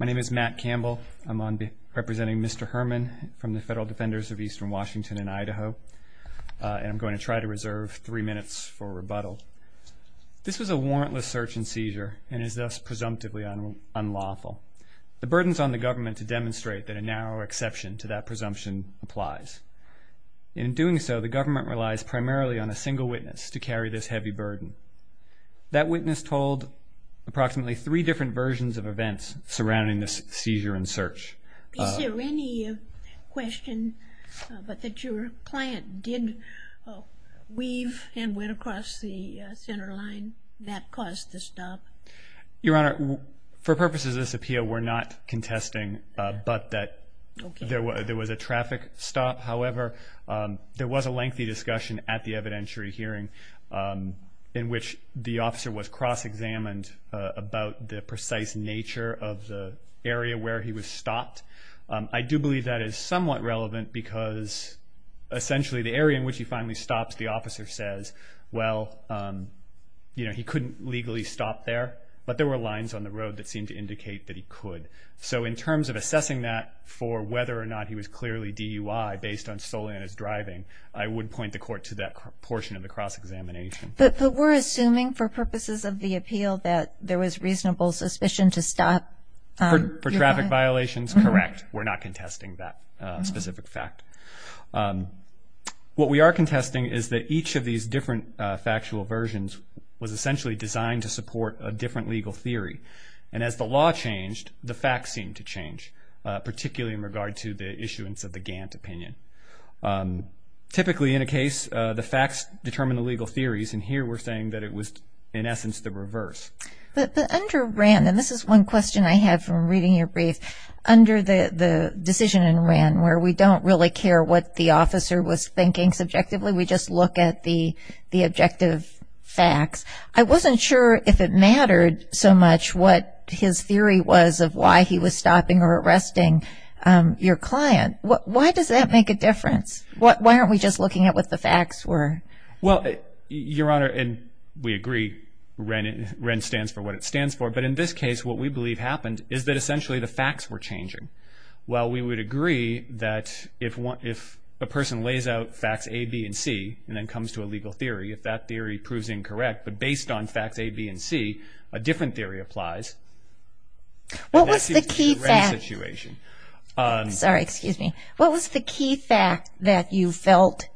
My name is Matt Campbell. I'm representing Mr. Herman from the Federal Defenders of Eastern Washington and Idaho. I'm going to try to reserve three minutes for rebuttal. This was a warrantless search and seizure and is thus presumptively unlawful. The burden is on the government to demonstrate that a narrow exception to that presumption applies. In doing so, the government relies primarily on a single witness to carry this heavy burden. That witness told approximately three different versions of events surrounding this seizure and search. Is there any question that your client did weave and went across the center line that caused the stop? Your Honor, for purposes of this appeal, we're not contesting but that there was a traffic stop. However, there was a lengthy discussion at the evidentiary hearing in which the officer was cross-examined about the precise nature of the area where he was stopped. I do believe that is somewhat relevant because essentially the area in which he finally stops, the officer says, well, he couldn't legally stop there but there were lines on the road that seemed to indicate that he could. So in terms of assessing that for whether or not he was clearly DUI based solely on his driving, I would point the court to that portion of the cross-examination. But we're assuming for purposes of the appeal that there was reasonable suspicion to stop. For traffic violations, correct. We're not contesting that specific fact. What we are contesting is that each of these different factual versions was essentially designed to support a different legal theory. And as the law changed, the facts seemed to change, particularly in regard to the issuance of the Gantt opinion. Typically in a case, the facts determine the legal theories, and here we're saying that it was in essence the reverse. But under RAND, and this is one question I have from reading your brief, under the decision in RAND where we don't really care what the officer was thinking subjectively, we just look at the objective facts, I wasn't sure if it mattered so much what his theory was of why he was stopping or arresting your client. Why does that make a difference? Why aren't we just looking at what the facts were? Well, Your Honor, and we agree, RAND stands for what it stands for. But in this case, what we believe happened is that essentially the facts were changing. While we would agree that if a person lays out facts A, B, and C, and then comes to a legal theory, if that theory proves incorrect, but based on facts A, B, and C, a different theory applies. What was the key fact that you felt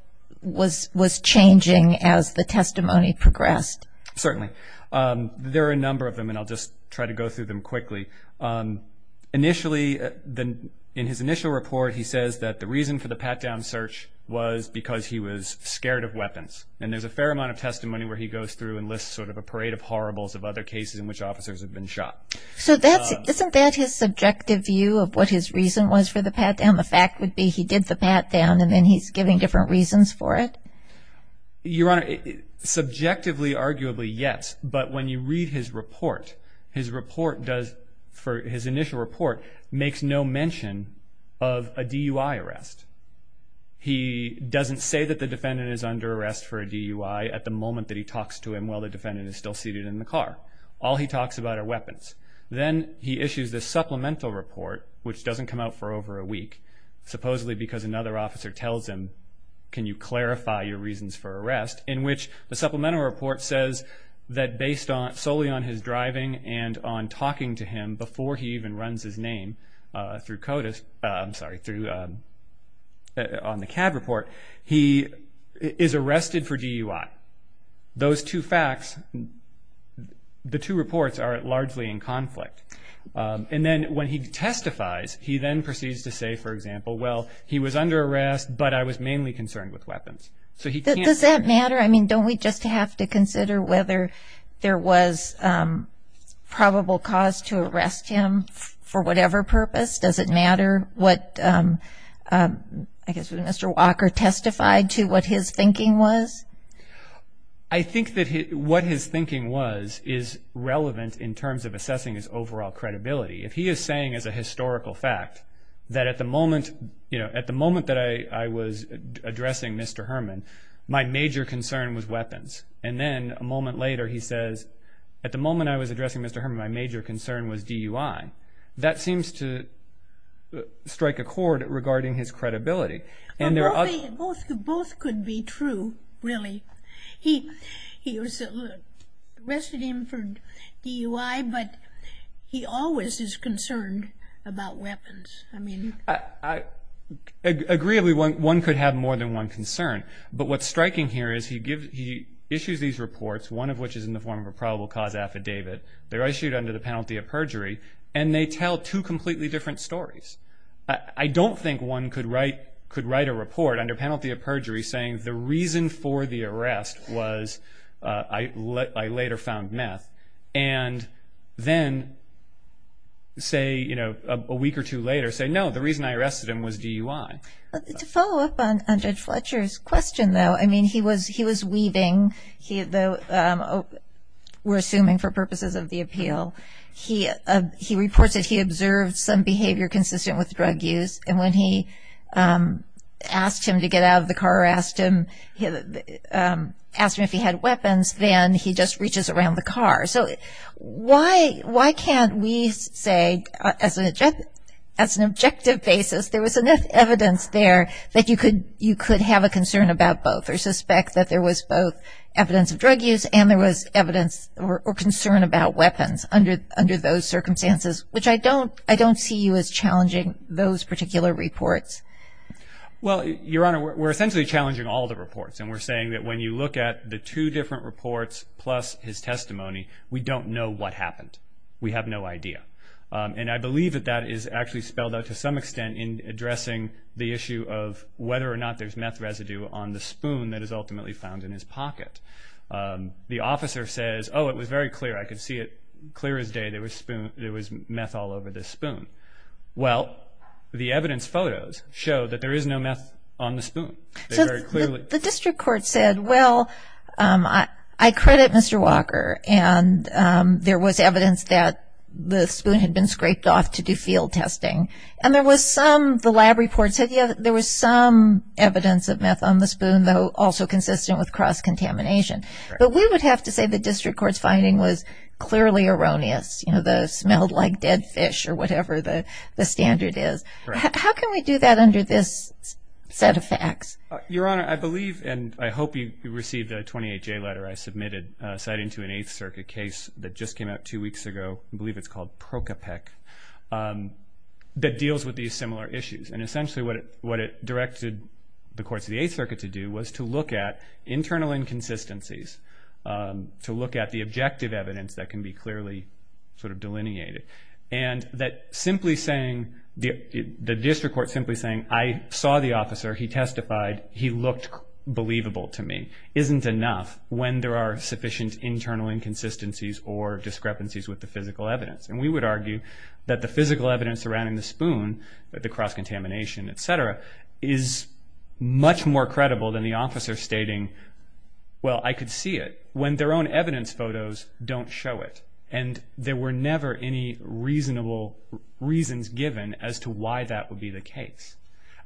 was changing as the testimony progressed? Certainly. There are a number of them, and I'll just try to go through them quickly. Initially, in his initial report, he says that the reason for the pat-down search was because he was scared of weapons. And there's a fair amount of testimony where he goes through and lists sort of a parade of horribles of other cases in which officers have been shot. So isn't that his subjective view of what his reason was for the pat-down? The fact would be he did the pat-down, and then he's giving different reasons for it? Your Honor, subjectively, arguably, yes. But when you read his report, his report does, for his initial report, makes no mention of a DUI arrest. He doesn't say that the defendant is under arrest for a DUI at the moment that he talks to him while the defendant is still seated in the car. All he talks about are weapons. Then he issues this supplemental report, which doesn't come out for over a week, supposedly because another officer tells him, can you clarify your reasons for arrest, in which the supplemental report says that based solely on his driving and on talking to him before he even runs his name on the CAB report, he is arrested for DUI. Those two facts, the two reports are largely in conflict. And then when he testifies, he then proceeds to say, for example, well, he was under arrest, but I was mainly concerned with weapons. Does that matter? I mean, don't we just have to consider whether there was probable cause to arrest him for whatever purpose? Does it matter what Mr. Walker testified to, what his thinking was? I think that what his thinking was is relevant in terms of assessing his overall credibility. If he is saying as a historical fact that at the moment that I was addressing Mr. Herman, my major concern was weapons, and then a moment later he says, at the moment I was addressing Mr. Herman, my major concern was DUI, that seems to strike a chord regarding his credibility. Both could be true, really. He arrested him for DUI, but he always is concerned about weapons. I mean. Agreeably, one could have more than one concern. But what's striking here is he issues these reports, one of which is in the form of a probable cause affidavit. They're issued under the penalty of perjury, and they tell two completely different stories. I don't think one could write a report under penalty of perjury saying the reason for the arrest was I later found meth, and then say, you know, a week or two later, say no, the reason I arrested him was DUI. To follow up on Judge Fletcher's question, though, I mean, he was weaving, though we're assuming for purposes of the appeal. He reports that he observed some behavior consistent with drug use, and when he asked him to get out of the car or asked him if he had weapons, then he just reaches around the car. So why can't we say, as an objective basis, there was enough evidence there that you could have a concern about both or suspect that there was both evidence of drug use and there was evidence or concern about weapons under those circumstances, which I don't see you as challenging those particular reports. Well, Your Honor, we're essentially challenging all the reports, and we're saying that when you look at the two different reports plus his testimony, we don't know what happened. We have no idea. And I believe that that is actually spelled out to some extent in addressing the issue of whether or not there's meth residue on the spoon that is ultimately found in his pocket. The officer says, oh, it was very clear. I could see it clear as day. There was meth all over the spoon. Well, the evidence photos show that there is no meth on the spoon. The district court said, well, I credit Mr. Walker, and there was evidence that the spoon had been scraped off to do field testing, and the lab report said, yeah, there was some evidence of meth on the spoon, though also consistent with cross-contamination. But we would have to say the district court's finding was clearly erroneous, you know, that it smelled like dead fish or whatever the standard is. How can we do that under this set of facts? Your Honor, I believe and I hope you received a 28-J letter I submitted citing to an Eighth Circuit case that just came out two weeks ago, I believe it's called Procapec, that deals with these similar issues. And essentially what it directed the courts of the Eighth Circuit to do was to look at internal inconsistencies, to look at the objective evidence that can be clearly sort of delineated. And that simply saying, the district court simply saying, I saw the officer, he testified, he looked believable to me, isn't enough when there are sufficient internal inconsistencies or discrepancies with the physical evidence. And we would argue that the physical evidence surrounding the spoon, the cross-contamination, et cetera, is much more credible than the officer stating, well, I could see it when their own evidence photos don't show it. And there were never any reasonable reasons given as to why that would be the case.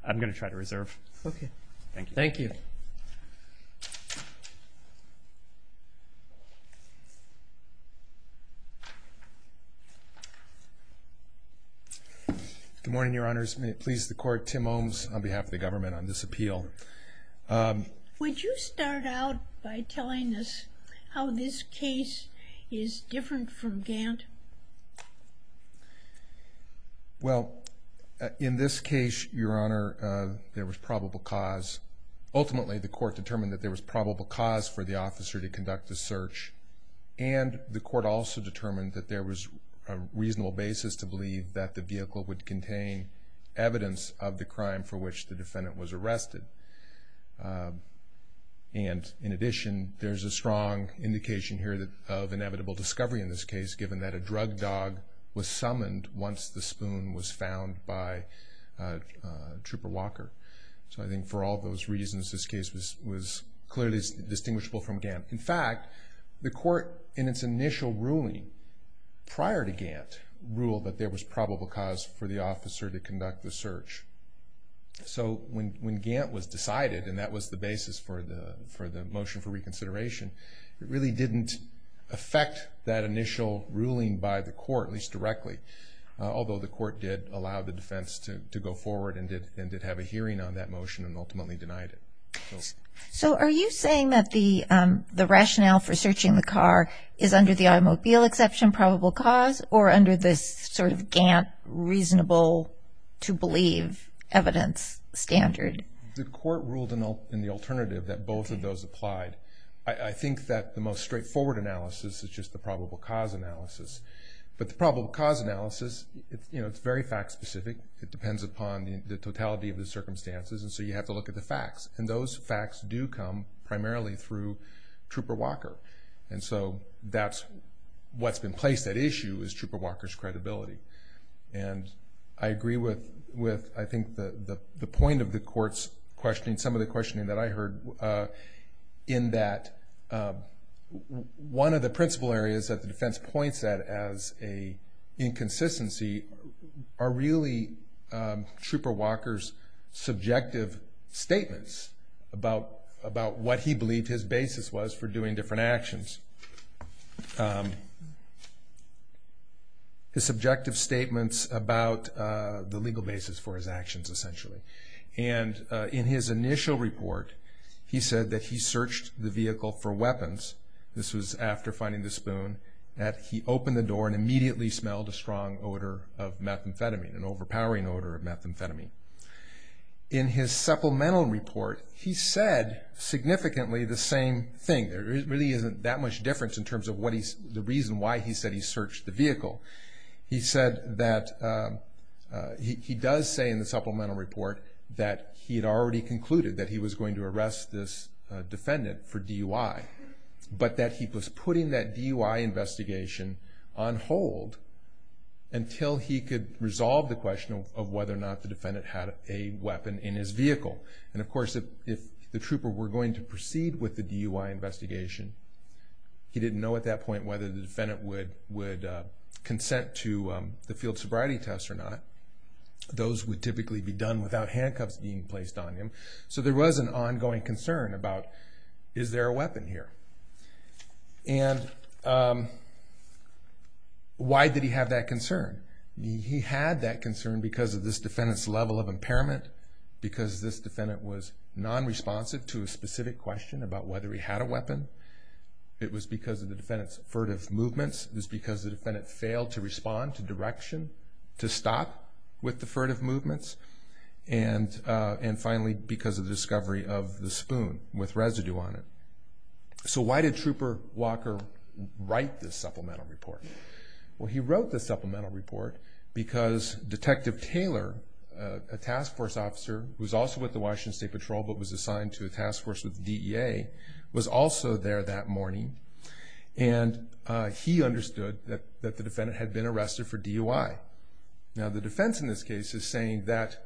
I'm going to try to reserve. Okay. Thank you. Good morning, Your Honors. May it please the Court, Tim Ohms on behalf of the government on this appeal. Would you start out by telling us how this case is different from Gant? Well, in this case, Your Honor, there was probable cause. Ultimately, the court determined that there was probable cause for the officer to conduct the search, and the court also determined that there was a reasonable basis to believe that the vehicle would contain evidence of the crime for which the defendant was arrested. And in addition, there's a strong indication here of inevitable discovery in this case, given that a drug dog was summoned once the spoon was found by Trooper Walker. So I think for all those reasons, this case was clearly distinguishable from Gant. In fact, the court, in its initial ruling prior to Gant, ruled that there was probable cause for the officer to conduct the search. So when Gant was decided, and that was the basis for the motion for reconsideration, it really didn't affect that initial ruling by the court, at least directly, although the court did allow the defense to go forward and did have a hearing on that motion and ultimately denied it. So are you saying that the rationale for searching the car is under the automobile exception, probable cause, or under this sort of Gant reasonable-to-believe evidence standard? The court ruled in the alternative that both of those applied. I think that the most straightforward analysis is just the probable cause analysis. But the probable cause analysis, it's very fact-specific. It depends upon the totality of the circumstances, and so you have to look at the facts. And those facts do come primarily through Trooper Walker. And so what's been placed at issue is Trooper Walker's credibility. And I agree with, I think, the point of the court's questioning, some of the questioning that I heard, in that one of the principal areas that the defense points at as an inconsistency are really Trooper Walker's subjective statements about what he believed his basis was for doing different actions, his subjective statements about the legal basis for his actions, essentially. And in his initial report, he said that he searched the vehicle for weapons. This was after finding the spoon, that he opened the door and immediately smelled a strong odor of methamphetamine, an overpowering odor of methamphetamine. In his supplemental report, he said significantly the same thing. There really isn't that much difference in terms of the reason why he said he searched the vehicle. He said that he does say in the supplemental report that he had already concluded that he was going to arrest this defendant for DUI, but that he was putting that DUI investigation on hold until he could resolve the question of whether or not the defendant had a weapon in his vehicle. And, of course, if the trooper were going to proceed with the DUI investigation, he didn't know at that point whether the defendant would consent to the field sobriety test or not. Those would typically be done without handcuffs being placed on him. So there was an ongoing concern about, is there a weapon here? And why did he have that concern? He had that concern because of this defendant's level of impairment, because this defendant was nonresponsive to a specific question about whether he had a weapon. It was because of the defendant's furtive movements. It was because the defendant failed to respond to direction to stop with the furtive movements. And finally, because of the discovery of the spoon with residue on it. So why did Trooper Walker write this supplemental report? Well, he wrote this supplemental report because Detective Taylor, a task force officer who was also with the Washington State Patrol, but was assigned to a task force with DEA, was also there that morning. And he understood that the defendant had been arrested for DUI. Now, the defense in this case is saying that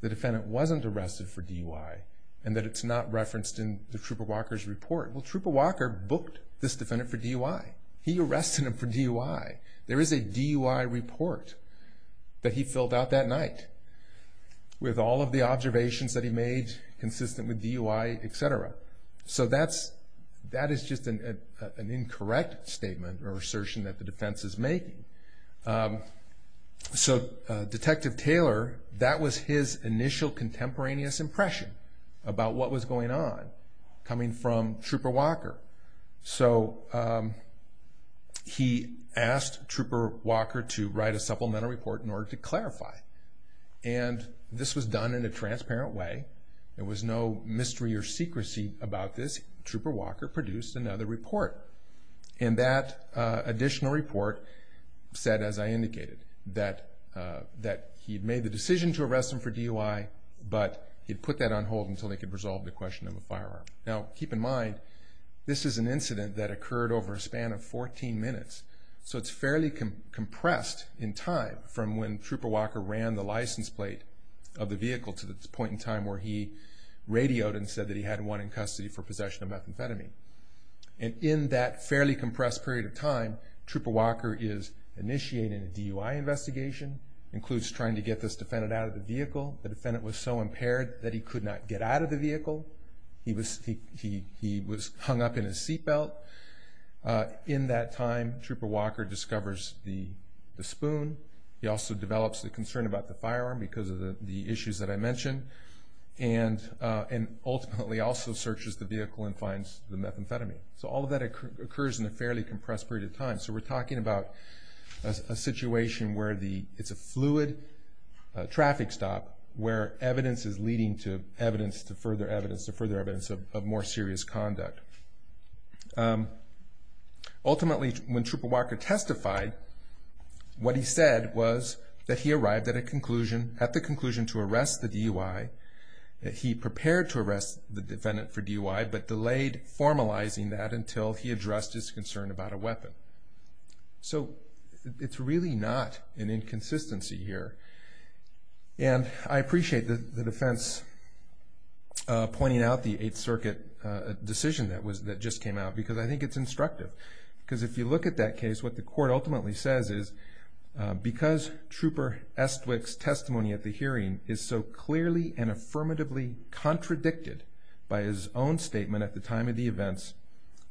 the defendant wasn't arrested for DUI and that it's not referenced in the Trooper Walker's report. Well, Trooper Walker booked this defendant for DUI. He arrested him for DUI. There is a DUI report that he filled out that night with all of the observations that he made consistent with DUI, et cetera. So that is just an incorrect statement or assertion that the defense is making. So Detective Taylor, that was his initial contemporaneous impression about what was going on coming from Trooper Walker. So he asked Trooper Walker to write a supplemental report in order to clarify. And this was done in a transparent way. There was no mystery or secrecy about this. Trooper Walker produced another report. And that additional report said, as I indicated, that he had made the decision to arrest him for DUI, but he had put that on hold until they could resolve the question of a firearm. Now, keep in mind, this is an incident that occurred over a span of 14 minutes. So it's fairly compressed in time from when Trooper Walker ran the license plate of the vehicle to the point in time where he radioed and said that he had one in custody for possession of methamphetamine. And in that fairly compressed period of time, Trooper Walker is initiating a DUI investigation, includes trying to get this defendant out of the vehicle. The defendant was so impaired that he could not get out of the vehicle. He was hung up in his seat belt. In that time, Trooper Walker discovers the spoon. He also develops a concern about the firearm because of the issues that I mentioned, and ultimately also searches the vehicle and finds the methamphetamine. So all of that occurs in a fairly compressed period of time. So we're talking about a situation where it's a fluid traffic stop where evidence is leading to evidence, to further evidence, to further evidence of more serious conduct. Ultimately, when Trooper Walker testified, what he said was that he arrived at a conclusion, at the conclusion to arrest the DUI, that he prepared to arrest the defendant for DUI but delayed formalizing that until he addressed his concern about a weapon. So it's really not an inconsistency here. And I appreciate the defense pointing out the Eighth Circuit decision that just came out because I think it's instructive. Because if you look at that case, what the court ultimately says is, because Trooper Estwick's testimony at the hearing is so clearly and affirmatively contradicted by his own statement at the time of the events,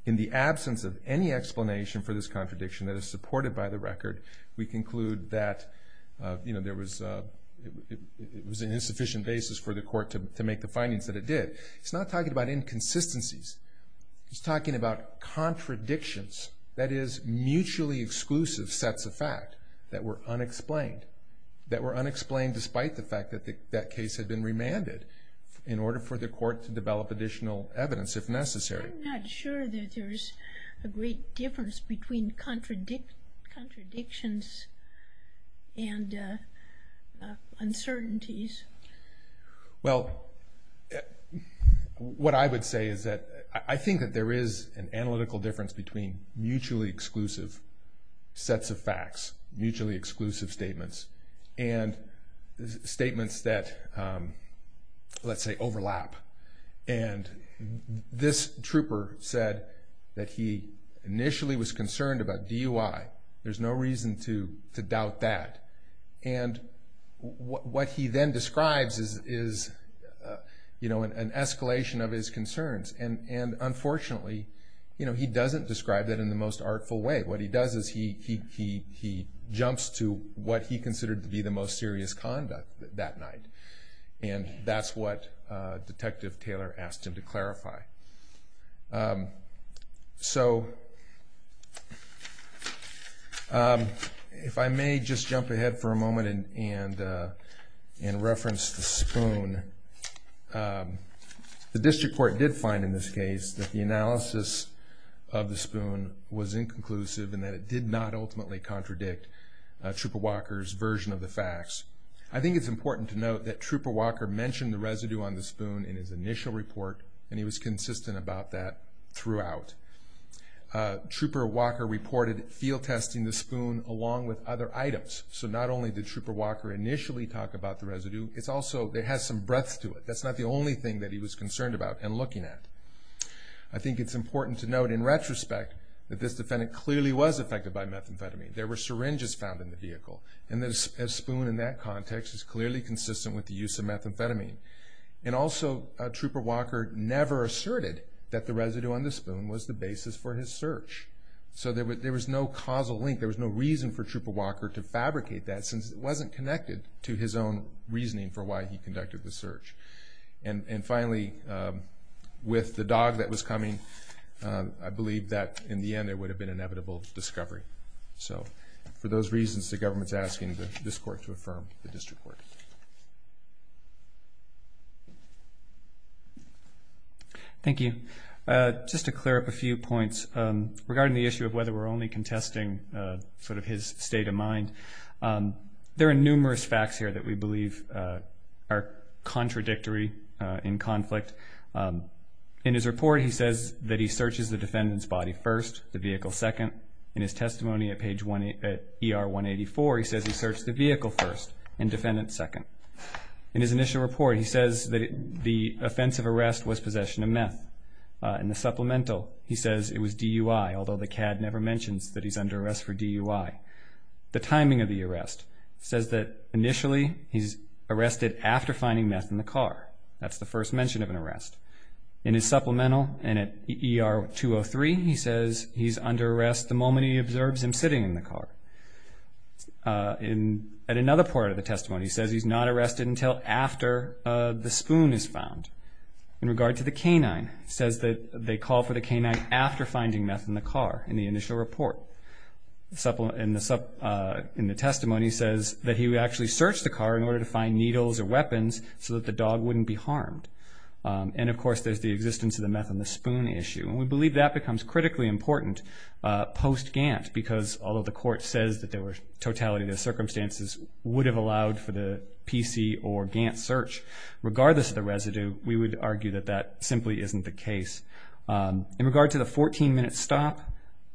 in the absence of any explanation for this contradiction that is supported by the record, we conclude that it was an insufficient basis for the court to make the findings that it did. It's not talking about inconsistencies. It's talking about contradictions, that is, mutually exclusive sets of fact that were unexplained, that were unexplained despite the fact that that case had been remanded in order for the court to develop additional evidence if necessary. I'm not sure that there's a great difference between contradictions and uncertainties. Well, what I would say is that I think that there is an analytical difference between mutually exclusive sets of facts, mutually exclusive statements, and statements that, let's say, overlap. And this trooper said that he initially was concerned about DUI. There's no reason to doubt that. And what he then describes is an escalation of his concerns. And unfortunately, he doesn't describe that in the most artful way. What he does is he jumps to what he considered to be the most serious conduct that night. And that's what Detective Taylor asked him to clarify. So if I may just jump ahead for a moment and reference the spoon. The district court did find in this case that the analysis of the spoon was inconclusive and that it did not ultimately contradict Trooper Walker's version of the facts. I think it's important to note that Trooper Walker mentioned the residue on the spoon in his initial report, and he was consistent about that throughout. Trooper Walker reported field testing the spoon along with other items. So not only did Trooper Walker initially talk about the residue, it also has some breadth to it. That's not the only thing that he was concerned about and looking at. I think it's important to note, in retrospect, that this defendant clearly was affected by methamphetamine. There were syringes found in the vehicle. And the spoon in that context is clearly consistent with the use of methamphetamine. And also Trooper Walker never asserted that the residue on the spoon was the basis for his search. So there was no causal link. There was no reason for Trooper Walker to fabricate that since it wasn't connected to his own reasoning for why he conducted the search. And finally, with the dog that was coming, I believe that in the end it would have been inevitable discovery. So for those reasons, the government is asking this court to affirm the district court. Thank you. Just to clear up a few points, regarding the issue of whether we're only contesting sort of his state of mind, there are numerous facts here that we believe are contradictory in conflict. In his report, he says that he searches the defendant's body first, the vehicle second. In his testimony at ER 184, he says he searched the vehicle first and defendant second. In his initial report, he says that the offense of arrest was possession of meth. In the supplemental, he says it was DUI, although the CAD never mentions that he's under arrest for DUI. The timing of the arrest says that initially he's arrested That's the first mention of an arrest. In his supplemental and at ER 203, he says he's under arrest the moment he observes him sitting in the car. At another part of the testimony, he says he's not arrested until after the spoon is found. In regard to the canine, he says that they call for the canine after finding meth in the car, in the initial report. In the testimony, he says that he actually searched the car in order to find needles or weapons so that the dog wouldn't be harmed. And of course, there's the existence of the meth in the spoon issue. And we believe that becomes critically important post-Gant, because although the court says that there was totality of the circumstances would have allowed for the PC or Gant search, regardless of the residue, we would argue that that simply isn't the case. In regard to the 14-minute stop,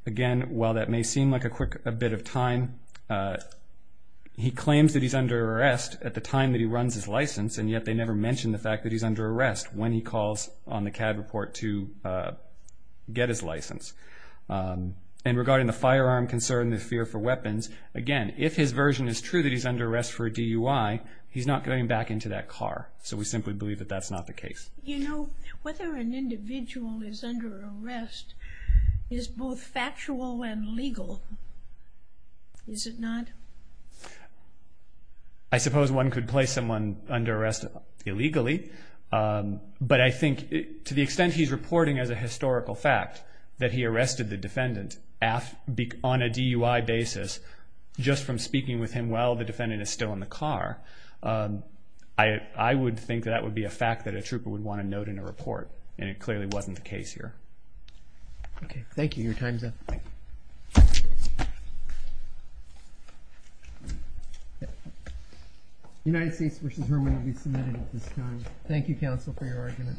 again, while that may seem like a quick bit of time, he claims that he's under arrest at the time that he runs his license, and yet they never mention the fact that he's under arrest when he calls on the CAD report to get his license. And regarding the firearm concern, the fear for weapons, again, if his version is true that he's under arrest for a DUI, he's not going back into that car. So we simply believe that that's not the case. You know, whether an individual is under arrest is both factual and legal, is it not? I suppose one could place someone under arrest illegally, but I think to the extent he's reporting as a historical fact that he arrested the defendant on a DUI basis just from speaking with him while the defendant is still in the car, I would think that that would be a fact that a trooper would want to note in a report, and it clearly wasn't the case here. Okay. Thank you. Your time's up. United States v. Herman will be submitted at this time. Thank you, counsel, for your argument.